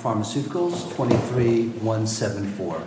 23174.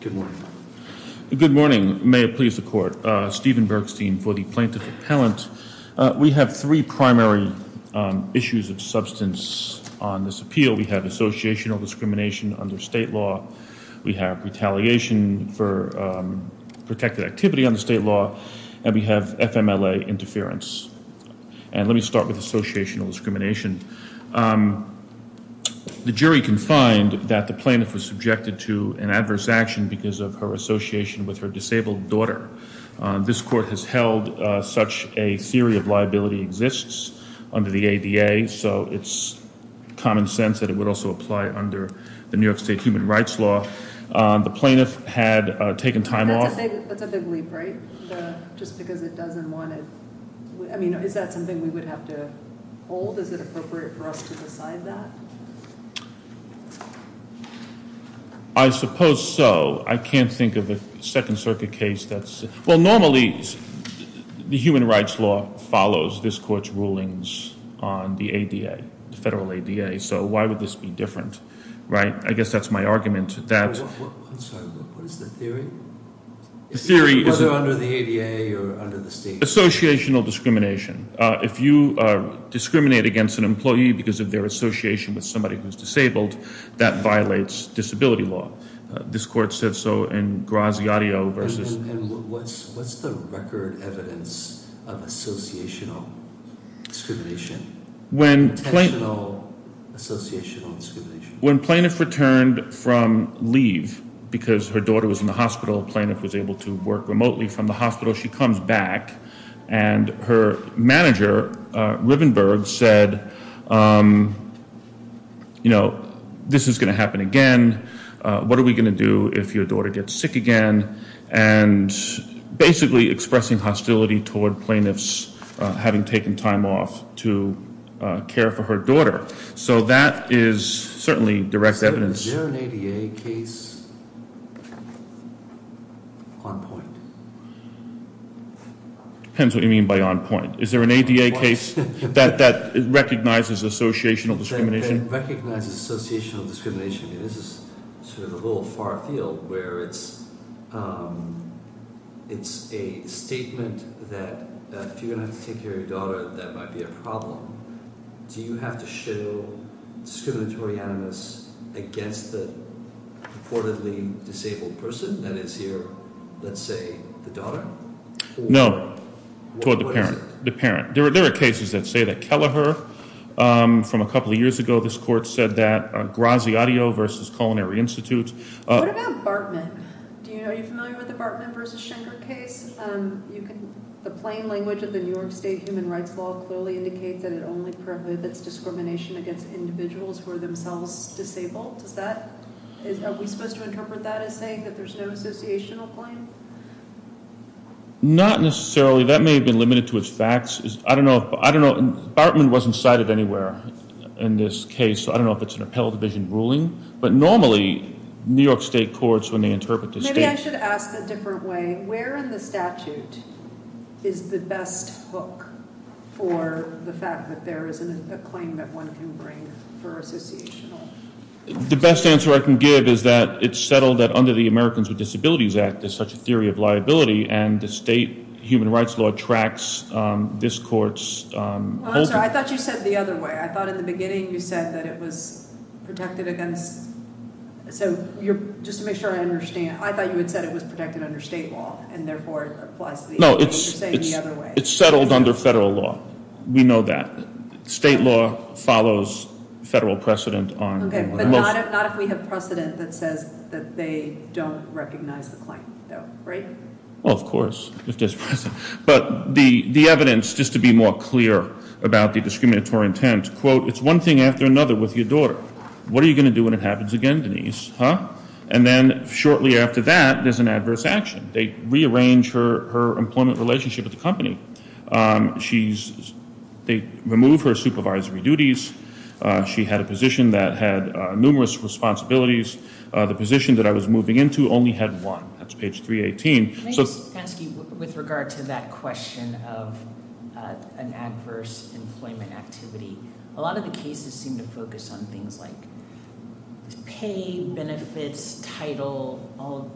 Good morning. Good morning. May it please the court. Stephen Bergstein for the plaintiff appellant. We have three primary issues of substance on this appeal. We have associational discrimination under state law. We have retaliation for protected activity under state law. And we have FMLA interference. And let me start with associational discrimination. The jury can find that the plaintiff was subjected to an adverse action because of her association with her disabled daughter. This court has held such a theory of liability exists under the ADA. So it's common sense that it would also apply under the New York State human rights law. The plaintiff had taken time off. That's a big leap, right? Just because it doesn't want it. I mean, is that something we would have to hold? Is it appropriate for us to decide that? I suppose so. I can't think of a Second Circuit case that's – well, normally the human rights law follows this court's rulings on the ADA, the federal ADA. So why would this be different, right? I guess that's my argument. I'm sorry. What is the theory? Whether under the ADA or under the state law. Associational discrimination. If you discriminate against an employee because of their association with somebody who's disabled, that violates disability law. This court said so in Graziadio v. And what's the record evidence of associational discrimination? Potential associational discrimination. When plaintiff returned from leave because her daughter was in the hospital, plaintiff was able to work remotely from the hospital. So she comes back and her manager, Rivenberg, said, you know, this is going to happen again. What are we going to do if your daughter gets sick again? And basically expressing hostility toward plaintiffs having taken time off to care for her daughter. So that is certainly direct evidence. Is there an ADA case on point? Depends what you mean by on point. Is there an ADA case that recognizes associational discrimination? Recognizes associational discrimination. This is sort of a little far field where it's a statement that if you're going to have to take care of your daughter, that might be a problem. Do you have to show discriminatory animus against the purportedly disabled person that is here, let's say, the daughter? No. What is it? The parent. There are cases that say that Kelleher from a couple of years ago, this court said that Graziadio versus Culinary Institute. What about Bartman? Are you familiar with the Bartman versus Schenker case? The plain language of the New York State human rights law clearly indicates that it only prohibits discrimination against individuals who are themselves disabled. Are we supposed to interpret that as saying that there's no associational claim? Not necessarily. That may have been limited to its facts. I don't know. Bartman wasn't cited anywhere in this case, so I don't know if it's an appellate division ruling. But normally, New York State courts, when they interpret the state. Maybe I should ask a different way. Where in the statute is the best hook for the fact that there is a claim that one can bring for associational? The best answer I can give is that it's settled that under the Americans with Disabilities Act, there's such a theory of liability. And the state human rights law tracks this court's holdings. I'm sorry. I thought you said it the other way. I thought in the beginning you said that it was protected against. So just to make sure I understand, I thought you had said it was protected under state law. And therefore, it applies to the other way. No, it's settled under federal law. We know that. State law follows federal precedent. Okay. But not if we have precedent that says that they don't recognize the claim, right? Well, of course. But the evidence, just to be more clear about the discriminatory intent, quote, it's one thing after another with your daughter. What are you going to do when it happens again, Denise? Huh? And then shortly after that, there's an adverse action. They rearrange her employment relationship with the company. They remove her supervisory duties. She had a position that had numerous responsibilities. The position that I was moving into only had one. That's page 318. Fenske, with regard to that question of an adverse employment activity, a lot of the cases seem to focus on things like pay, benefits, title, all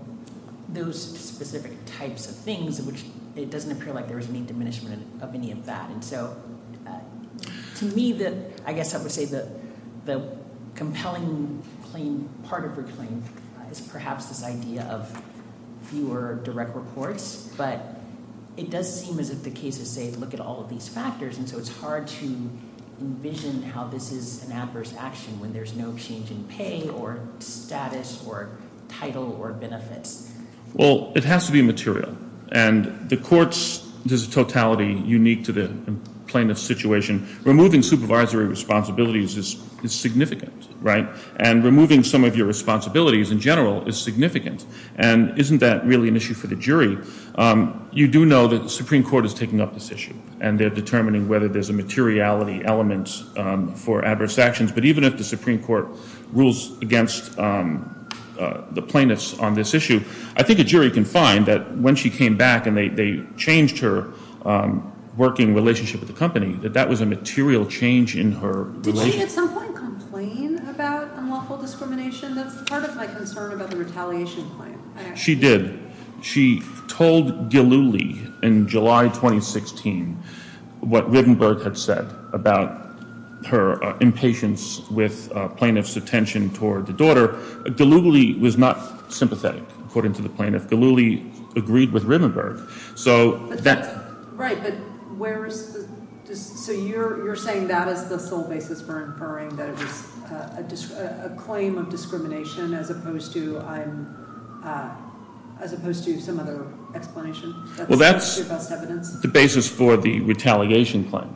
those specific types of things, which it doesn't appear like there was any diminishment of any of that. And so to me, I guess I would say the compelling claim, part of her claim, is perhaps this idea of fewer direct reports. But it does seem as if the cases say look at all of these factors, and so it's hard to envision how this is an adverse action when there's no change in pay or status or title or benefits. Well, it has to be material. And the court's totality is unique to the plaintiff's situation. Removing supervisory responsibilities is significant, right? And removing some of your responsibilities in general is significant. And isn't that really an issue for the jury? You do know that the Supreme Court is taking up this issue, and they're determining whether there's a materiality element for adverse actions. But even if the Supreme Court rules against the plaintiffs on this issue, I think a jury can find that when she came back and they changed her working relationship with the company, that that was a material change in her relationship. Did she at some point complain about unlawful discrimination? That's part of my concern about the retaliation claim. She did. She told Gillooly in July 2016 what Rivenberg had said about her impatience with plaintiffs' attention toward the daughter. Gillooly was not sympathetic, according to the plaintiff. Gillooly agreed with Rivenberg. Right, but where is the – so you're saying that is the sole basis for inferring that it was a claim of discrimination as opposed to some other explanation? Well, that's the basis for the retaliation claim.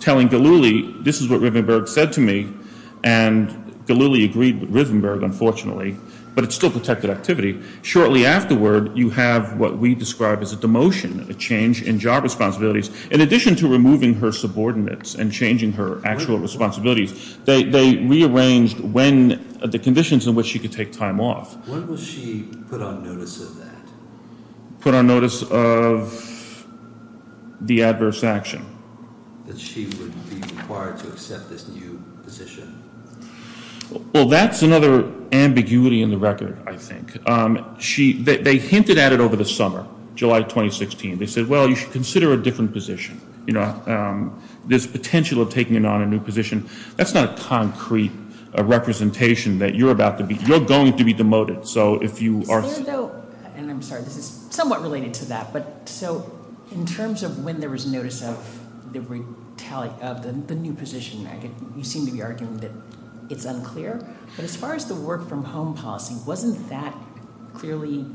Telling Gillooly, this is what Rivenberg said to me, and Gillooly agreed with Rivenberg, unfortunately, but it's still protected activity. Shortly afterward, you have what we describe as a demotion, a change in job responsibilities. In addition to removing her subordinates and changing her actual responsibilities, they rearranged the conditions in which she could take time off. When was she put on notice of that? Put on notice of the adverse action. That she would be required to accept this new position. Well, that's another ambiguity in the record, I think. They hinted at it over the summer, July 2016. They said, well, you should consider a different position. This potential of taking on a new position, that's not a concrete representation that you're about to be – you're going to be demoted, so if you are – And I'm sorry, this is somewhat related to that, but so in terms of when there was notice of the new position, you seem to be arguing that it's unclear, but as far as the work from home policy, wasn't that clearly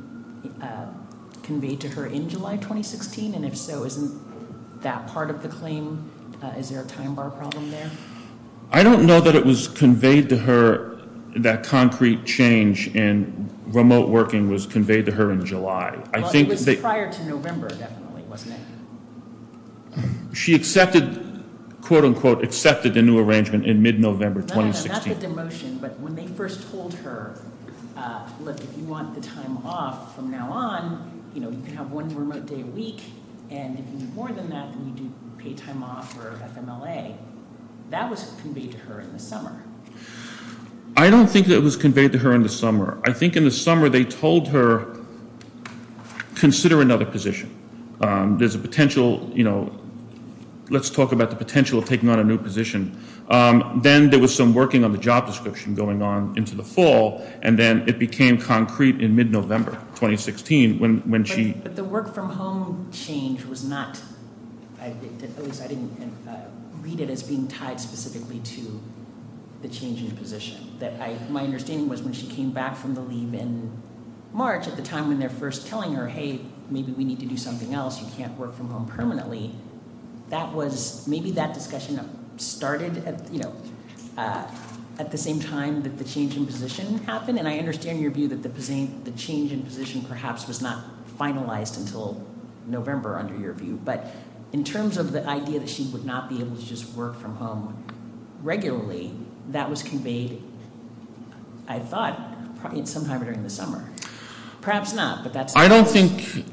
conveyed to her in July 2016? And if so, isn't that part of the claim? Is there a time bar problem there? I don't know that it was conveyed to her, that concrete change in remote working was conveyed to her in July. It was prior to November, definitely, wasn't it? She accepted, quote, unquote, accepted the new arrangement in mid-November 2016. That's with the motion, but when they first told her, look, if you want the time off from now on, you can have one remote day a week, and if you need more than that, then you do pay time off or FMLA. That was conveyed to her in the summer. I don't think that it was conveyed to her in the summer. I think in the summer they told her, consider another position. There's a potential – let's talk about the potential of taking on a new position. Then there was some working on the job description going on into the fall, and then it became concrete in mid-November 2016 when she – But the work from home change was not – at least I didn't read it as being tied specifically to the change in position. My understanding was when she came back from the leave in March, at the time when they're first telling her, hey, maybe we need to do something else, you can't work from home permanently, that was – maybe that discussion started at the same time that the change in position happened, and I understand your view that the change in position perhaps was not finalized until November under your view, but in terms of the idea that she would not be able to just work from home regularly, that was conveyed, I thought, sometime during the summer. Perhaps not, but that's – I don't think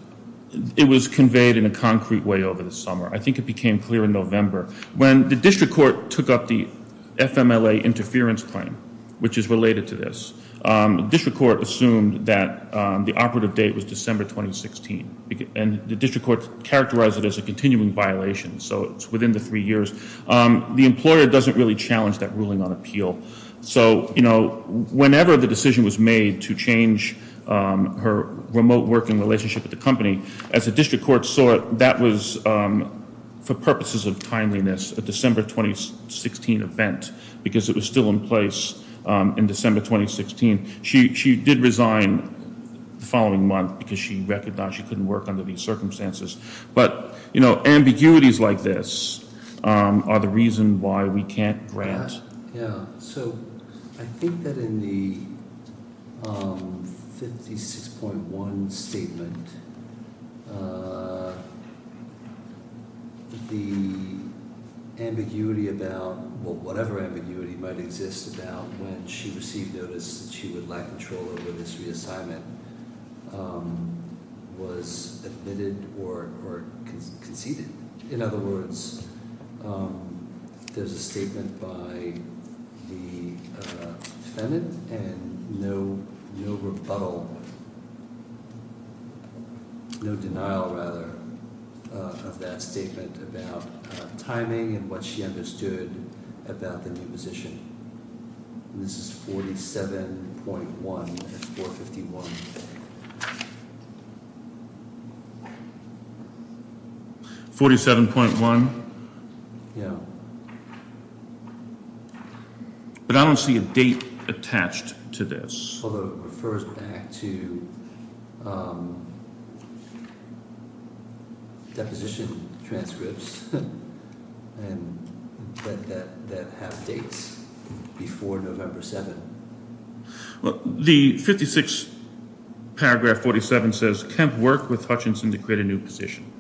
it was conveyed in a concrete way over the summer. I think it became clear in November. When the district court took up the FMLA interference claim, which is related to this, the district court assumed that the operative date was December 2016, and the district court characterized it as a continuing violation, so it's within the three years. The employer doesn't really challenge that ruling on appeal. So, you know, whenever the decision was made to change her remote working relationship with the company, as the district court saw it, that was, for purposes of timeliness, a December 2016 event, because it was still in place in December 2016. She did resign the following month because she recognized she couldn't work under these circumstances. But, you know, ambiguities like this are the reason why we can't grant. Yeah, so I think that in the 56.1 statement, the ambiguity about – well, whatever ambiguity might exist about when she received notice that she would lack control over this reassignment was admitted or conceded. In other words, there's a statement by the defendant and no rebuttal – no denial, rather, of that statement about timing and what she understood about the new position. This is 47.1 and 451. 47.1? Yeah. But I don't see a date attached to this. Although it refers back to deposition transcripts that have dates before November 7. Well, the 56 paragraph 47 says, Kemp worked with Hutchinson to create a new position.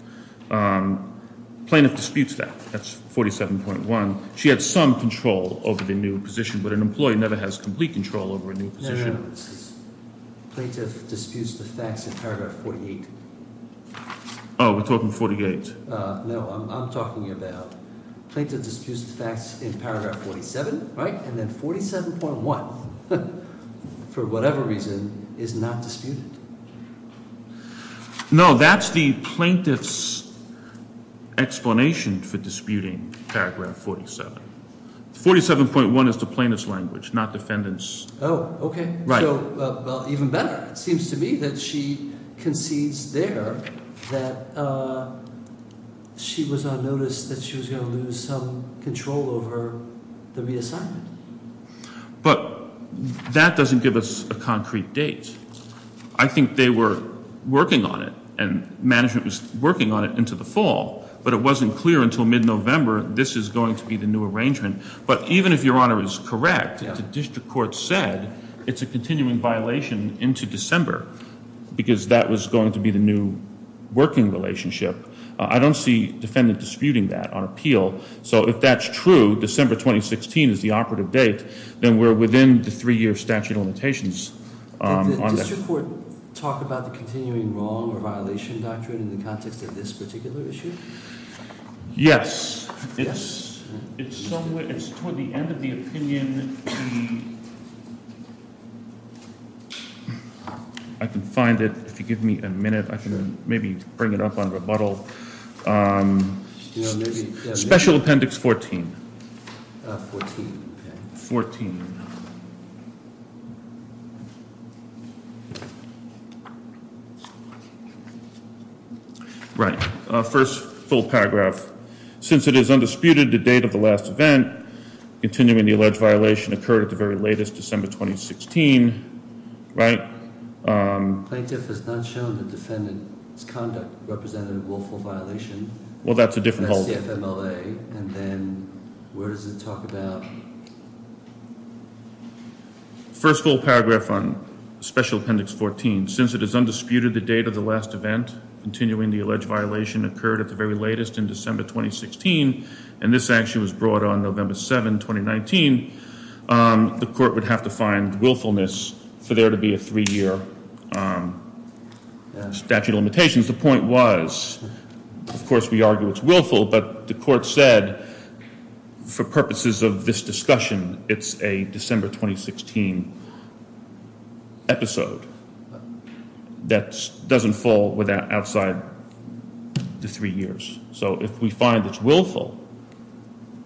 Plaintiff disputes that. That's 47.1. She had some control over the new position, but an employee never has complete control over a new position. Plaintiff disputes the facts in paragraph 48. Oh, we're talking 48? No, I'm talking about plaintiff disputes the facts in paragraph 47, right? And then 47.1, for whatever reason, is not disputed. No, that's the plaintiff's explanation for disputing paragraph 47. 47.1 is the plaintiff's language, not defendant's. Oh, okay. Right. Well, even better. It seems to me that she concedes there that she was on notice that she was going to lose some control over the reassignment. But that doesn't give us a concrete date. I think they were working on it, and management was working on it into the fall, but it wasn't clear until mid-November this is going to be the new arrangement. But even if Your Honor is correct, the district court said it's a continuing violation into December, because that was going to be the new working relationship. I don't see defendant disputing that on appeal. So if that's true, December 2016 is the operative date, then we're within the three-year statute of limitations. Did the district court talk about the continuing wrong or violation doctrine in the context of this particular issue? Yes. It's toward the end of the opinion. I can find it. If you give me a minute, I can maybe bring it up on rebuttal. Special Appendix 14. Fourteen. Fourteen. Right. First full paragraph. Since it is undisputed the date of the last event, continuing the alleged violation occurred at the very latest, December 2016. Right. Plaintiff has not shown the defendant's conduct represented a willful violation. Well, that's a different whole thing. And that's the FMLA. And then where does it talk about? First full paragraph on Special Appendix 14. Since it is undisputed the date of the last event, continuing the alleged violation occurred at the very latest in December 2016, and this actually was brought on November 7, 2019, the court would have to find willfulness for there to be a three-year statute of limitations. The point was, of course, we argue it's willful, but the court said for purposes of this discussion, it's a December 2016 episode. That doesn't fall outside the three years. So if we find it's willful,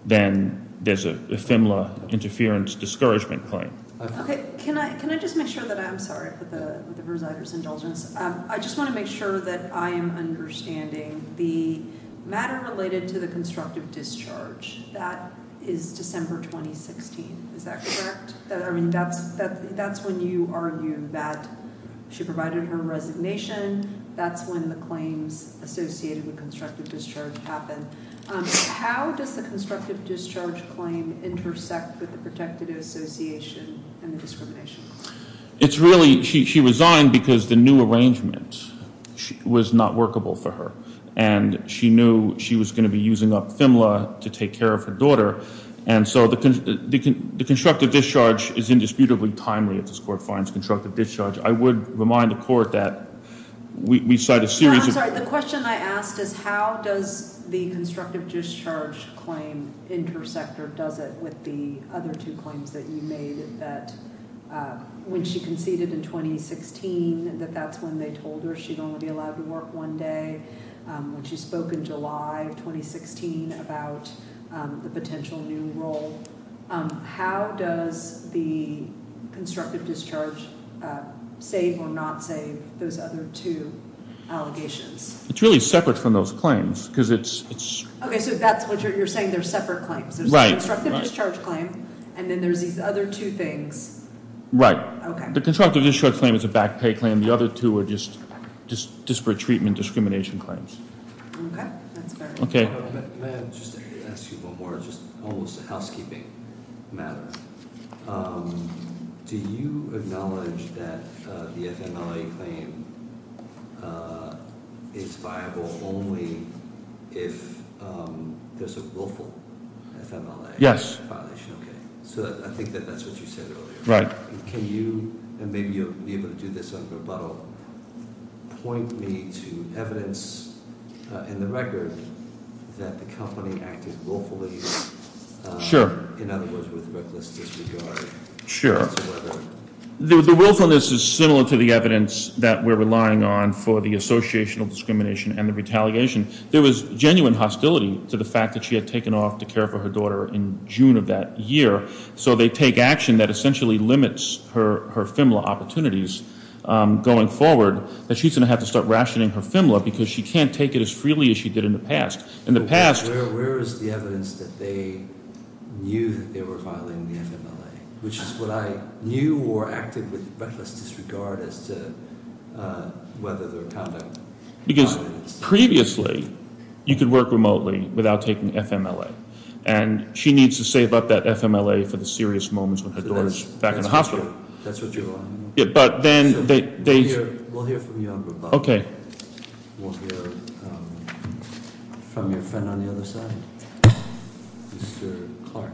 then there's a FMLA interference discouragement claim. Okay. Can I just make sure that I'm sorry for the presider's indulgence? I just want to make sure that I am understanding the matter related to the constructive discharge. That is December 2016. Is that correct? I mean, that's when you argue that she provided her resignation. That's when the claims associated with constructive discharge happened. How does the constructive discharge claim intersect with the protective association and the discrimination claim? It's really she resigned because the new arrangement was not workable for her, and she knew she was going to be using up FMLA to take care of her daughter. And so the constructive discharge is indisputably timely if this court finds constructive discharge. I would remind the court that we cite a series of – I'm sorry. The question I asked is how does the constructive discharge claim intersect or does it with the other two claims that you made, that when she conceded in 2016 that that's when they told her she'd only be allowed to work one day, when she spoke in July of 2016 about the potential new role, how does the constructive discharge save or not save those other two allegations? It's really separate from those claims because it's – Okay, so that's what you're saying. They're separate claims. Right. So there's the constructive discharge claim, and then there's these other two things. Right. Okay. The constructive discharge claim is a back pay claim. The other two are just disparate treatment discrimination claims. Okay, that's fair. Okay. May I just ask you one more, just almost a housekeeping matter. Do you acknowledge that the FMLA claim is viable only if there's a willful FMLA violation? Yes. Okay, so I think that that's what you said earlier. Right. Can you, and maybe you'll be able to do this on rebuttal, point me to evidence in the record that the company acted willfully? Sure. In other words, with reckless disregard. Sure. The willfulness is similar to the evidence that we're relying on for the associational discrimination and the retaliation. There was genuine hostility to the fact that she had taken off to care for her daughter in June of that year, so they take action that essentially limits her FMLA opportunities going forward, that she's going to have to start rationing her FMLA because she can't take it as freely as she did in the past. Where is the evidence that they knew that they were violating the FMLA, which is what I knew or acted with reckless disregard as to whether their conduct violated it. Because previously you could work remotely without taking FMLA, and she needs to save up that FMLA for the serious moments when her daughter's back in the hospital. That's what you're relying on. But then they- We'll hear from you on rebuttal. Okay. We'll hear from your friend on the other side, Mr. Clark.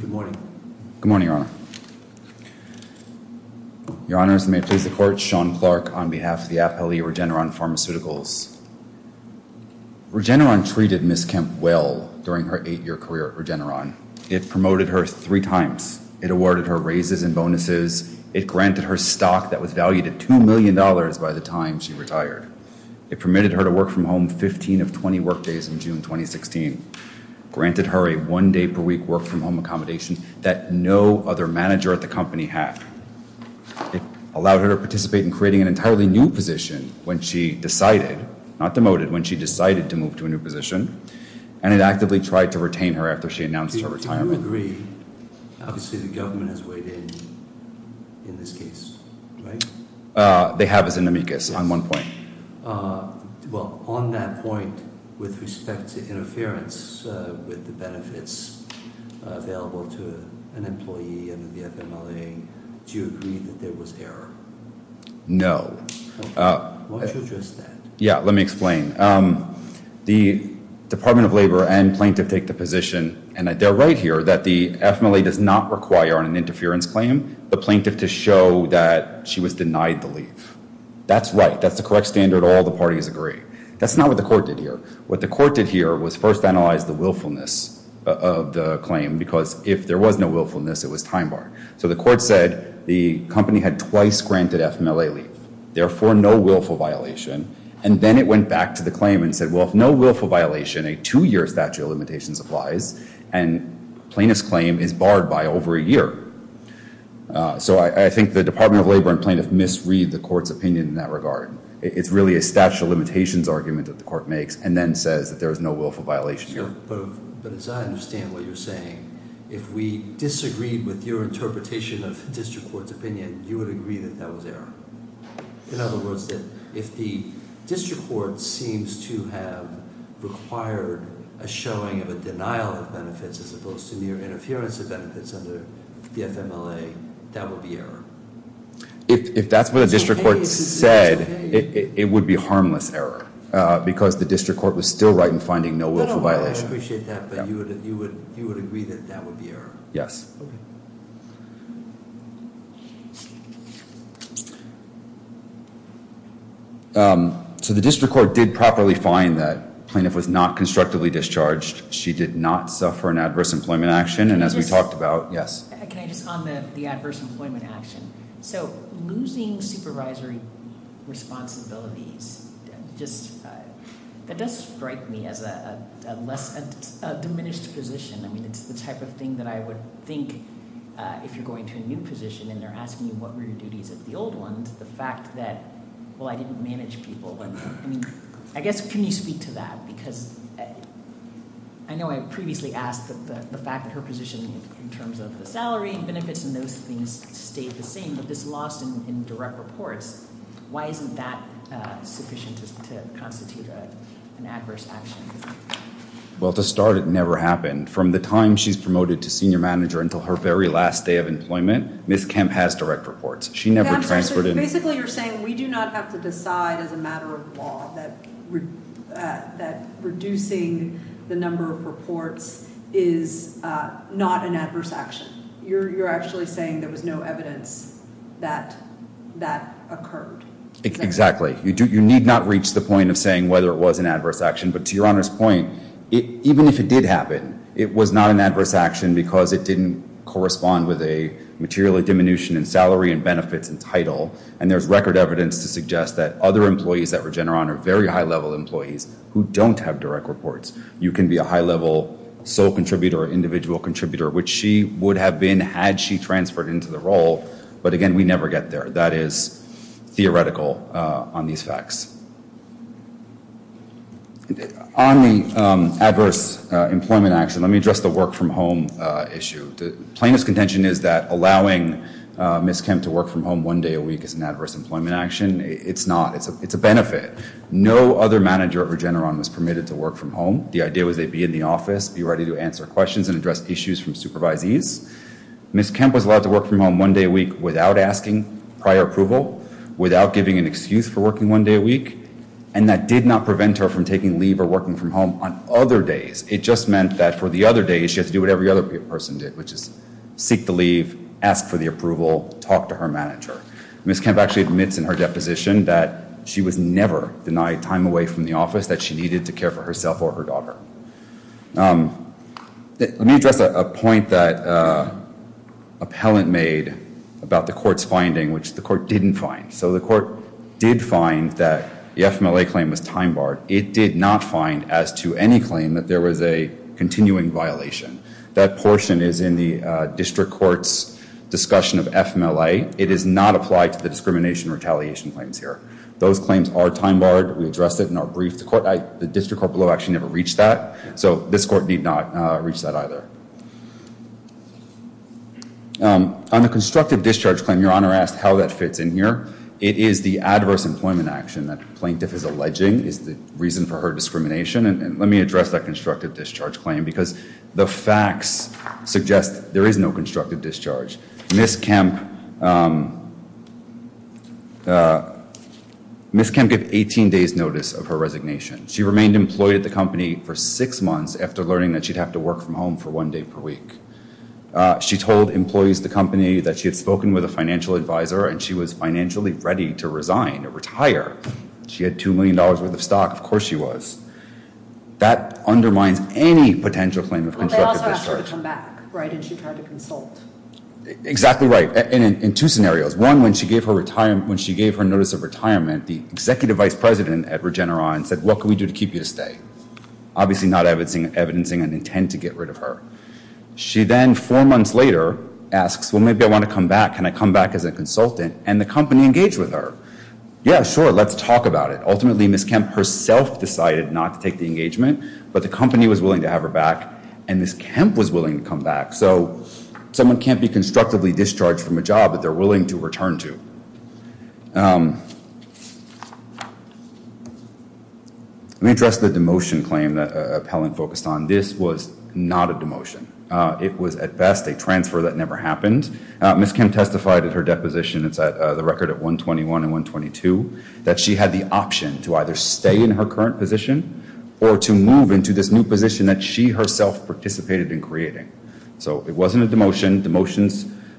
Good morning. Good morning, Your Honor. Your Honors, may it please the Court, Sean Clark on behalf of the Appellee Regeneron Pharmaceuticals. Regeneron treated Ms. Kemp well during her eight-year career at Regeneron. It promoted her three times. It awarded her raises and bonuses. It granted her stock that was valued at $2 million by the time she retired. It permitted her to work from home 15 of 20 work days in June 2016, granted her a one-day-per-week work-from-home accommodation that no other manager at the company had. It allowed her to participate in creating an entirely new position when she decided, not demoted, when she decided to move to a new position, and it actively tried to retain her after she announced her retirement. Do you agree, obviously the government has weighed in, in this case, right? They have as an amicus on one point. Well, on that point, with respect to interference with the benefits available to an employee under the FMLA, do you agree that there was error? No. Why don't you address that? Yeah, let me explain. The Department of Labor and plaintiff take the position, and they're right here, that the FMLA does not require on an interference claim the plaintiff to show that she was denied the leave. That's right. That's the correct standard all the parties agree. That's not what the court did here. What the court did here was first analyze the willfulness of the claim, because if there was no willfulness, it was time barred. So the court said the company had twice granted FMLA leave, therefore no willful violation, and then it went back to the claim and said, well, if no willful violation, a two-year statute of limitations applies, and plaintiff's claim is barred by over a year. So I think the Department of Labor and plaintiff misread the court's opinion in that regard. It's really a statute of limitations argument that the court makes, and then says that there is no willful violation here. But as I understand what you're saying, if we disagreed with your interpretation of district court's opinion, you would agree that that was error. In other words, if the district court seems to have required a showing of a denial of benefits as opposed to mere interference of benefits under the FMLA, that would be error. If that's what the district court said, it would be harmless error, because the district court was still right in finding no willful violation. I appreciate that, but you would agree that that would be error? Yes. Okay. So the district court did properly find that plaintiff was not constructively discharged. She did not suffer an adverse employment action, and as we talked about, yes. Can I just on the adverse employment action? So losing supervisory responsibilities, that does strike me as a diminished position. I mean, it's the type of thing that I would think if you're going to a new position, and they're asking you what were your duties at the old ones, the fact that, well, I didn't manage people. I mean, I guess, can you speak to that? Because I know I previously asked the fact that her position in terms of the salary and benefits and those things stayed the same, but this loss in direct reports, why isn't that sufficient to constitute an adverse action? Well, to start, it never happened. From the time she's promoted to senior manager until her very last day of employment, Ms. Kemp has direct reports. Basically you're saying we do not have to decide as a matter of law that reducing the number of reports is not an adverse action. You're actually saying there was no evidence that that occurred. Exactly. You need not reach the point of saying whether it was an adverse action, but to Your Honor's point, even if it did happen, it was not an adverse action because it didn't correspond with a material diminution in salary and benefits and title, and there's record evidence to suggest that other employees at Regeneron are very high-level employees who don't have direct reports. You can be a high-level sole contributor or individual contributor, which she would have been had she transferred into the role, but again, we never get there. That is theoretical on these facts. On the adverse employment action, let me address the work from home issue. Plaintiff's contention is that allowing Ms. Kemp to work from home one day a week is an adverse employment action. It's not. It's a benefit. No other manager at Regeneron was permitted to work from home. The idea was they'd be in the office, be ready to answer questions and address issues from supervisees. Ms. Kemp was allowed to work from home one day a week without asking prior approval, without giving an excuse for working one day a week, and that did not prevent her from taking leave or working from home on other days. It just meant that for the other days she had to do what every other person did, which is seek the leave, ask for the approval, talk to her manager. Ms. Kemp actually admits in her deposition that she was never denied time away from the office, that she needed to care for herself or her daughter. Let me address a point that appellant made about the court's finding, which the court didn't find. So the court did find that the FMLA claim was time barred. It did not find, as to any claim, that there was a continuing violation. That portion is in the district court's discussion of FMLA. It does not apply to the discrimination retaliation claims here. Those claims are time barred. We addressed it in our brief. The district court below actually never reached that, so this court did not reach that either. On the constructive discharge claim, Your Honor asked how that fits in here. It is the adverse employment action that the plaintiff is alleging is the reason for her discrimination. And let me address that constructive discharge claim, because the facts suggest there is no constructive discharge. Ms. Kemp, Ms. Kemp gave 18 days notice of her resignation. She remained employed at the company for six months after learning that she'd have to work from home for one day per week. She told employees at the company that she had spoken with a financial advisor, and she was financially ready to resign or retire. She had $2 million worth of stock. Of course she was. That undermines any potential claim of constructive discharge. But they also asked her to come back, right, and she tried to consult. Exactly right. And in two scenarios. One, when she gave her notice of retirement, the executive vice president at Regeneron said, what can we do to keep you to stay? Obviously not evidencing an intent to get rid of her. She then, four months later, asks, well, maybe I want to come back. Can I come back as a consultant? And the company engaged with her. Yeah, sure, let's talk about it. Ultimately Ms. Kemp herself decided not to take the engagement, but the company was willing to have her back, and Ms. Kemp was willing to come back. So someone can't be constructively discharged from a job that they're willing to return to. Let me address the demotion claim that Appellant focused on. This was not a demotion. It was at best a transfer that never happened. Ms. Kemp testified at her deposition, it's the record at 121 and 122, that she had the option to either stay in her current position or to move into this new position that she herself participated in creating. So it wasn't a demotion.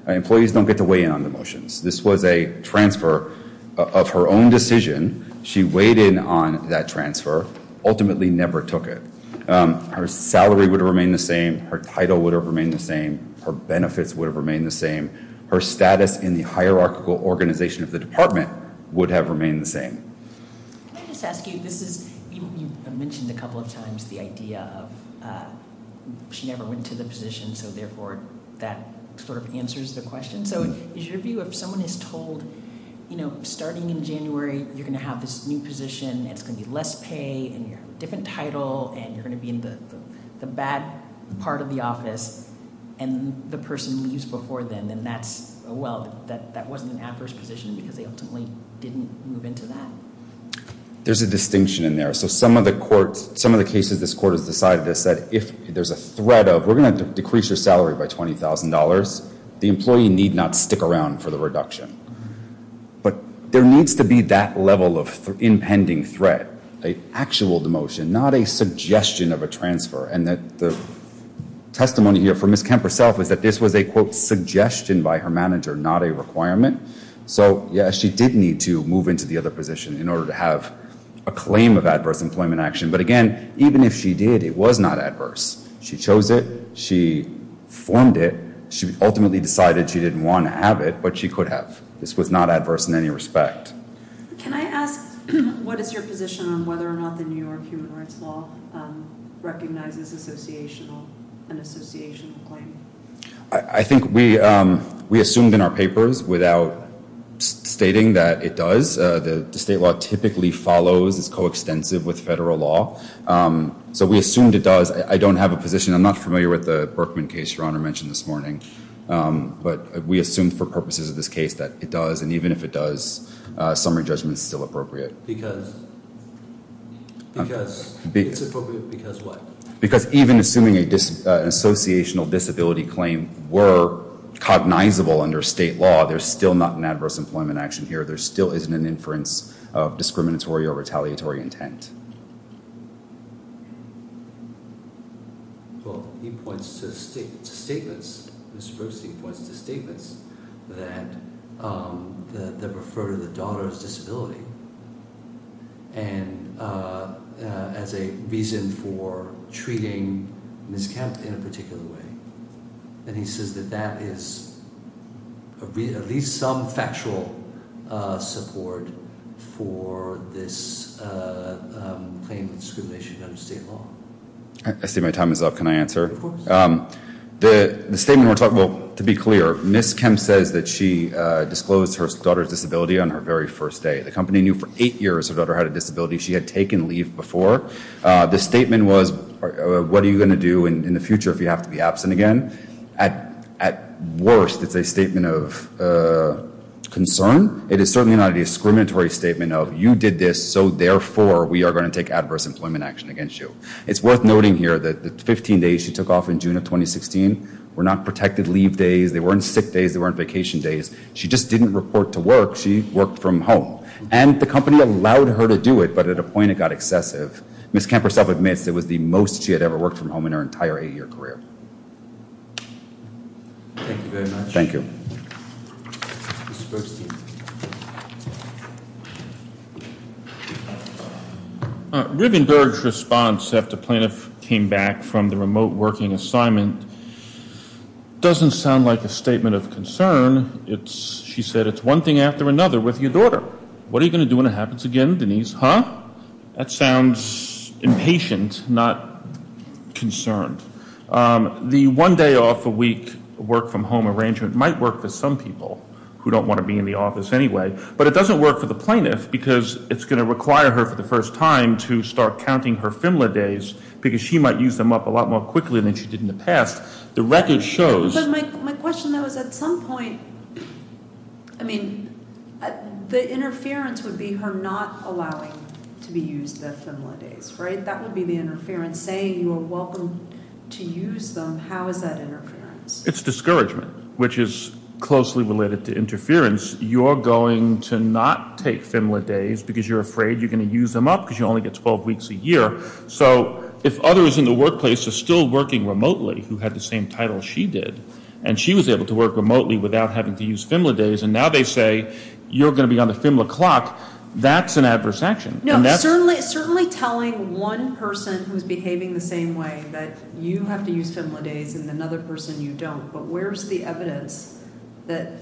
Employees don't get to weigh in on demotions. This was a transfer of her own decision. She weighed in on that transfer, ultimately never took it. Her salary would have remained the same. Her title would have remained the same. Her benefits would have remained the same. Her status in the hierarchical organization of the department would have remained the same. Can I just ask you, you mentioned a couple of times the idea of she never went to the position, so therefore that sort of answers the question. So is your view if someone is told, you know, starting in January, you're going to have this new position, it's going to be less pay, and you're going to have a different title, and you're going to be in the bad part of the office, and the person leaves before then, then that's, well, that wasn't an adverse position because they ultimately didn't move into that? There's a distinction in there. So some of the courts, some of the cases this court has decided has said, if there's a threat of we're going to decrease your salary by $20,000, the employee need not stick around for the reduction. But there needs to be that level of impending threat, an actual demotion, not a suggestion of a transfer. And the testimony here for Ms. Kemp herself is that this was a, quote, suggestion by her manager, not a requirement. So, yes, she did need to move into the other position in order to have a claim of adverse employment action. But, again, even if she did, it was not adverse. She chose it. She formed it. She ultimately decided she didn't want to have it, but she could have. This was not adverse in any respect. Can I ask what is your position on whether or not the New York human rights law recognizes an associational claim? I think we assumed in our papers without stating that it does. The state law typically follows, is coextensive with federal law. So we assumed it does. I don't have a position. I'm not familiar with the Berkman case Your Honor mentioned this morning. But we assumed for purposes of this case that it does. And even if it does, summary judgment is still appropriate. Because? Because it's appropriate because what? Because even assuming an associational disability claim were cognizable under state law, there's still not an adverse employment action here. There still isn't an inference of discriminatory or retaliatory intent. Well, he points to statements, Mr. Brooks, he points to statements that refer to the daughter's disability as a reason for treating Ms. Kemp in a particular way. And he says that that is at least some factual support for this claim of discrimination under state law. I see my time is up. Can I answer? Of course. The statement we're talking about, to be clear, Ms. Kemp says that she disclosed her daughter's disability on her very first day. The company knew for eight years her daughter had a disability. She had taken leave before. The statement was, what are you going to do in the future if you have to be absent again? At worst, it's a statement of concern. It is certainly not a discriminatory statement of you did this, so therefore we are going to take adverse employment action against you. It's worth noting here that the 15 days she took off in June of 2016 were not protected leave days. They weren't sick days. They weren't vacation days. She just didn't report to work. She worked from home. And the company allowed her to do it, but at a point it got excessive. Ms. Kemp herself admits it was the most she had ever worked from home in her entire eight-year career. Thank you very much. Thank you. Rivenberg's response after Plaintiff came back from the remote working assignment doesn't sound like a statement of concern. She said, it's one thing after another with your daughter. What are you going to do when it happens again, Denise? Huh? That sounds impatient, not concerned. The one-day-off-a-week work-from-home arrangement might work for some people who don't want to be in the office anyway, but it doesn't work for the plaintiff because it's going to require her for the first time to start counting her FMLA days because she might use them up a lot more quickly than she did in the past. The record shows. But my question, though, is at some point, I mean, the interference would be her not allowing to be used the FMLA days, right? That would be the interference, saying you are welcome to use them. How is that interference? It's discouragement, which is closely related to interference. You're going to not take FMLA days because you're afraid you're going to use them up because you only get 12 weeks a year. So if others in the workplace are still working remotely who had the same title she did and she was able to work remotely without having to use FMLA days, and now they say you're going to be on the FMLA clock, that's an adverse action. No, certainly telling one person who's behaving the same way that you have to use FMLA days and another person you don't, but where's the evidence that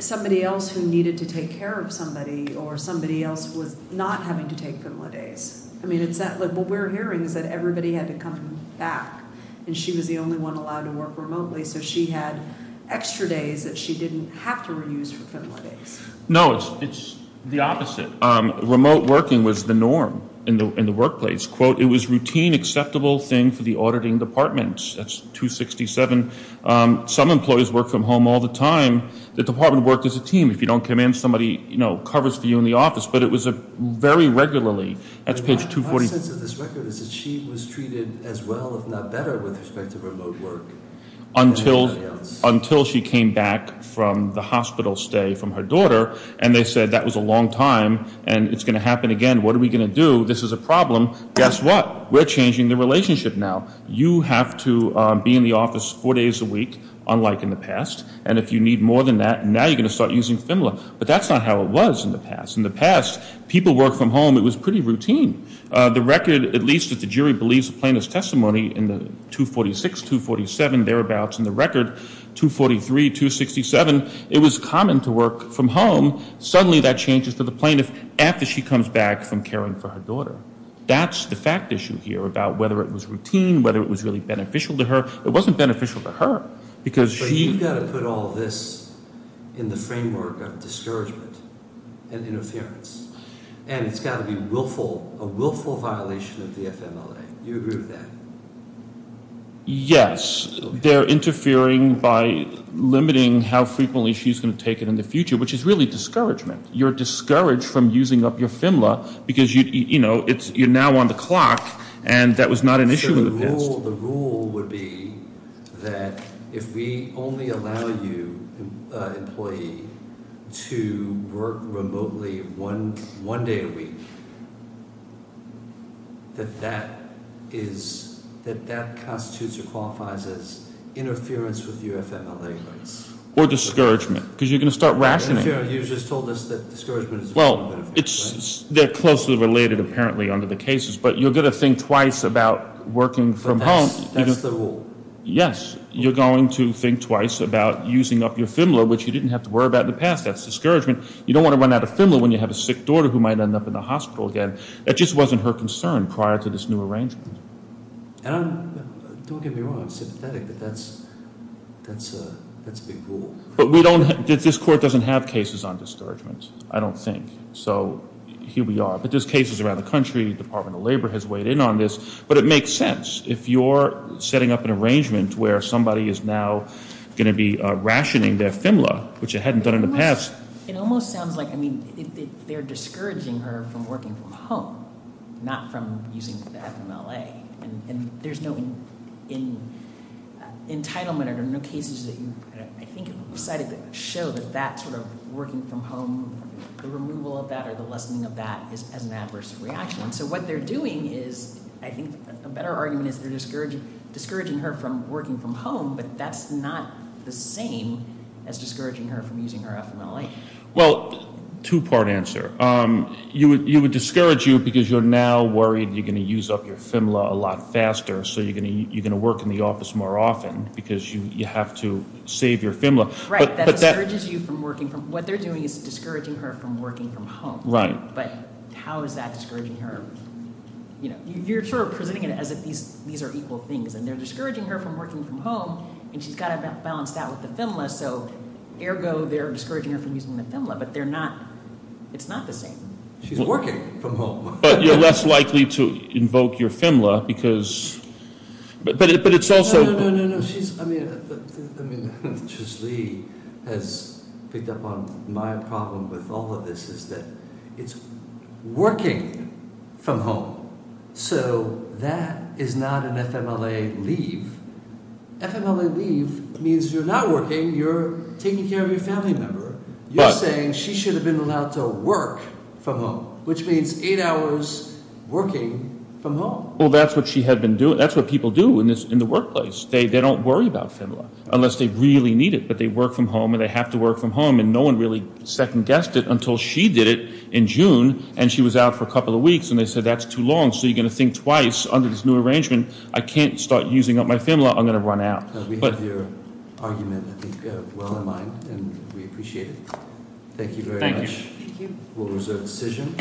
somebody else who needed to take care of somebody or somebody else was not having to take FMLA days? I mean, what we're hearing is that everybody had to come back, and she was the only one allowed to work remotely, so she had extra days that she didn't have to reuse for FMLA days. No, it's the opposite. Remote working was the norm in the workplace. It was a routine, acceptable thing for the auditing department. That's 267. Some employees work from home all the time. The department worked as a team. If you don't come in, somebody covers for you in the office, but it was very regularly. My sense of this record is that she was treated as well, if not better, with respect to remote work than everybody else. Until she came back from the hospital stay from her daughter, and they said that was a long time, and it's going to happen again. What are we going to do? This is a problem. Guess what? We're changing the relationship now. You have to be in the office four days a week, unlike in the past, and if you need more than that, now you're going to start using FMLA, but that's not how it was in the past. In the past, people worked from home. It was pretty routine. The record, at least if the jury believes the plaintiff's testimony in the 246, 247, thereabouts, and the record 243, 267, it was common to work from home. Suddenly that changes for the plaintiff after she comes back from caring for her daughter. That's the fact issue here about whether it was routine, whether it was really beneficial to her. It wasn't beneficial to her because she- But you've got to put all this in the framework of discouragement and interference, and it's got to be a willful violation of the FMLA. Do you agree with that? Yes. They're interfering by limiting how frequently she's going to take it in the future, which is really discouragement. You're discouraged from using up your FMLA because you're now on the clock, and that was not an issue in the past. The rule would be that if we only allow you, employee, to work remotely one day a week, that that constitutes or qualifies as interference with your FMLA rights. Or discouragement because you're going to start rationing. You just told us that discouragement is- They're closely related apparently under the cases, but you're going to think twice about working from home. But that's the rule. Yes. You're going to think twice about using up your FMLA, which you didn't have to worry about in the past. That's discouragement. You don't want to run out of FMLA when you have a sick daughter who might end up in the hospital again. That just wasn't her concern prior to this new arrangement. Don't get me wrong. I'm sympathetic, but that's a big rule. But this court doesn't have cases on discouragement, I don't think. So here we are. But there's cases around the country. Department of Labor has weighed in on this. But it makes sense. If you're setting up an arrangement where somebody is now going to be rationing their FMLA, which it hadn't done in the past- It almost sounds like they're discouraging her from working from home, not from using the FMLA. And there's no entitlement or no cases that you, I think, decided to show that that sort of working from home, the removal of that or the lessening of that is an adverse reaction. So what they're doing is, I think a better argument is they're discouraging her from working from home, but that's not the same as discouraging her from using her FMLA. Well, two part answer. You would discourage you because you're now worried you're going to use up your FMLA a lot faster, so you're going to work in the office more often because you have to save your FMLA. Right, that discourages you from working from- What they're doing is discouraging her from working from home. Right. But how is that discouraging her? You're sort of presenting it as if these are equal things. And they're discouraging her from working from home, and she's got to balance that with the FMLA, so ergo they're discouraging her from using the FMLA, but they're not, it's not the same. She's working from home. But you're less likely to invoke your FMLA because, but it's also- No, no, no, no, she's, I mean, I mean, Trish Lee has picked up on my problem with all of this is that it's working from home. So that is not an FMLA leave. FMLA leave means you're not working, you're taking care of your family member. You're saying she should have been allowed to work from home, which means eight hours working from home. Well, that's what she had been doing. That's what people do in the workplace. They don't worry about FMLA unless they really need it, but they work from home and they have to work from home, and no one really second-guessed it until she did it in June, and she was out for a couple of weeks, and they said that's too long, so you're going to think twice under this new arrangement. I can't start using up my FMLA. I'm going to run out. We have your argument, I think, well in mind, and we appreciate it. Thank you very much. Thank you. We'll reserve the decision.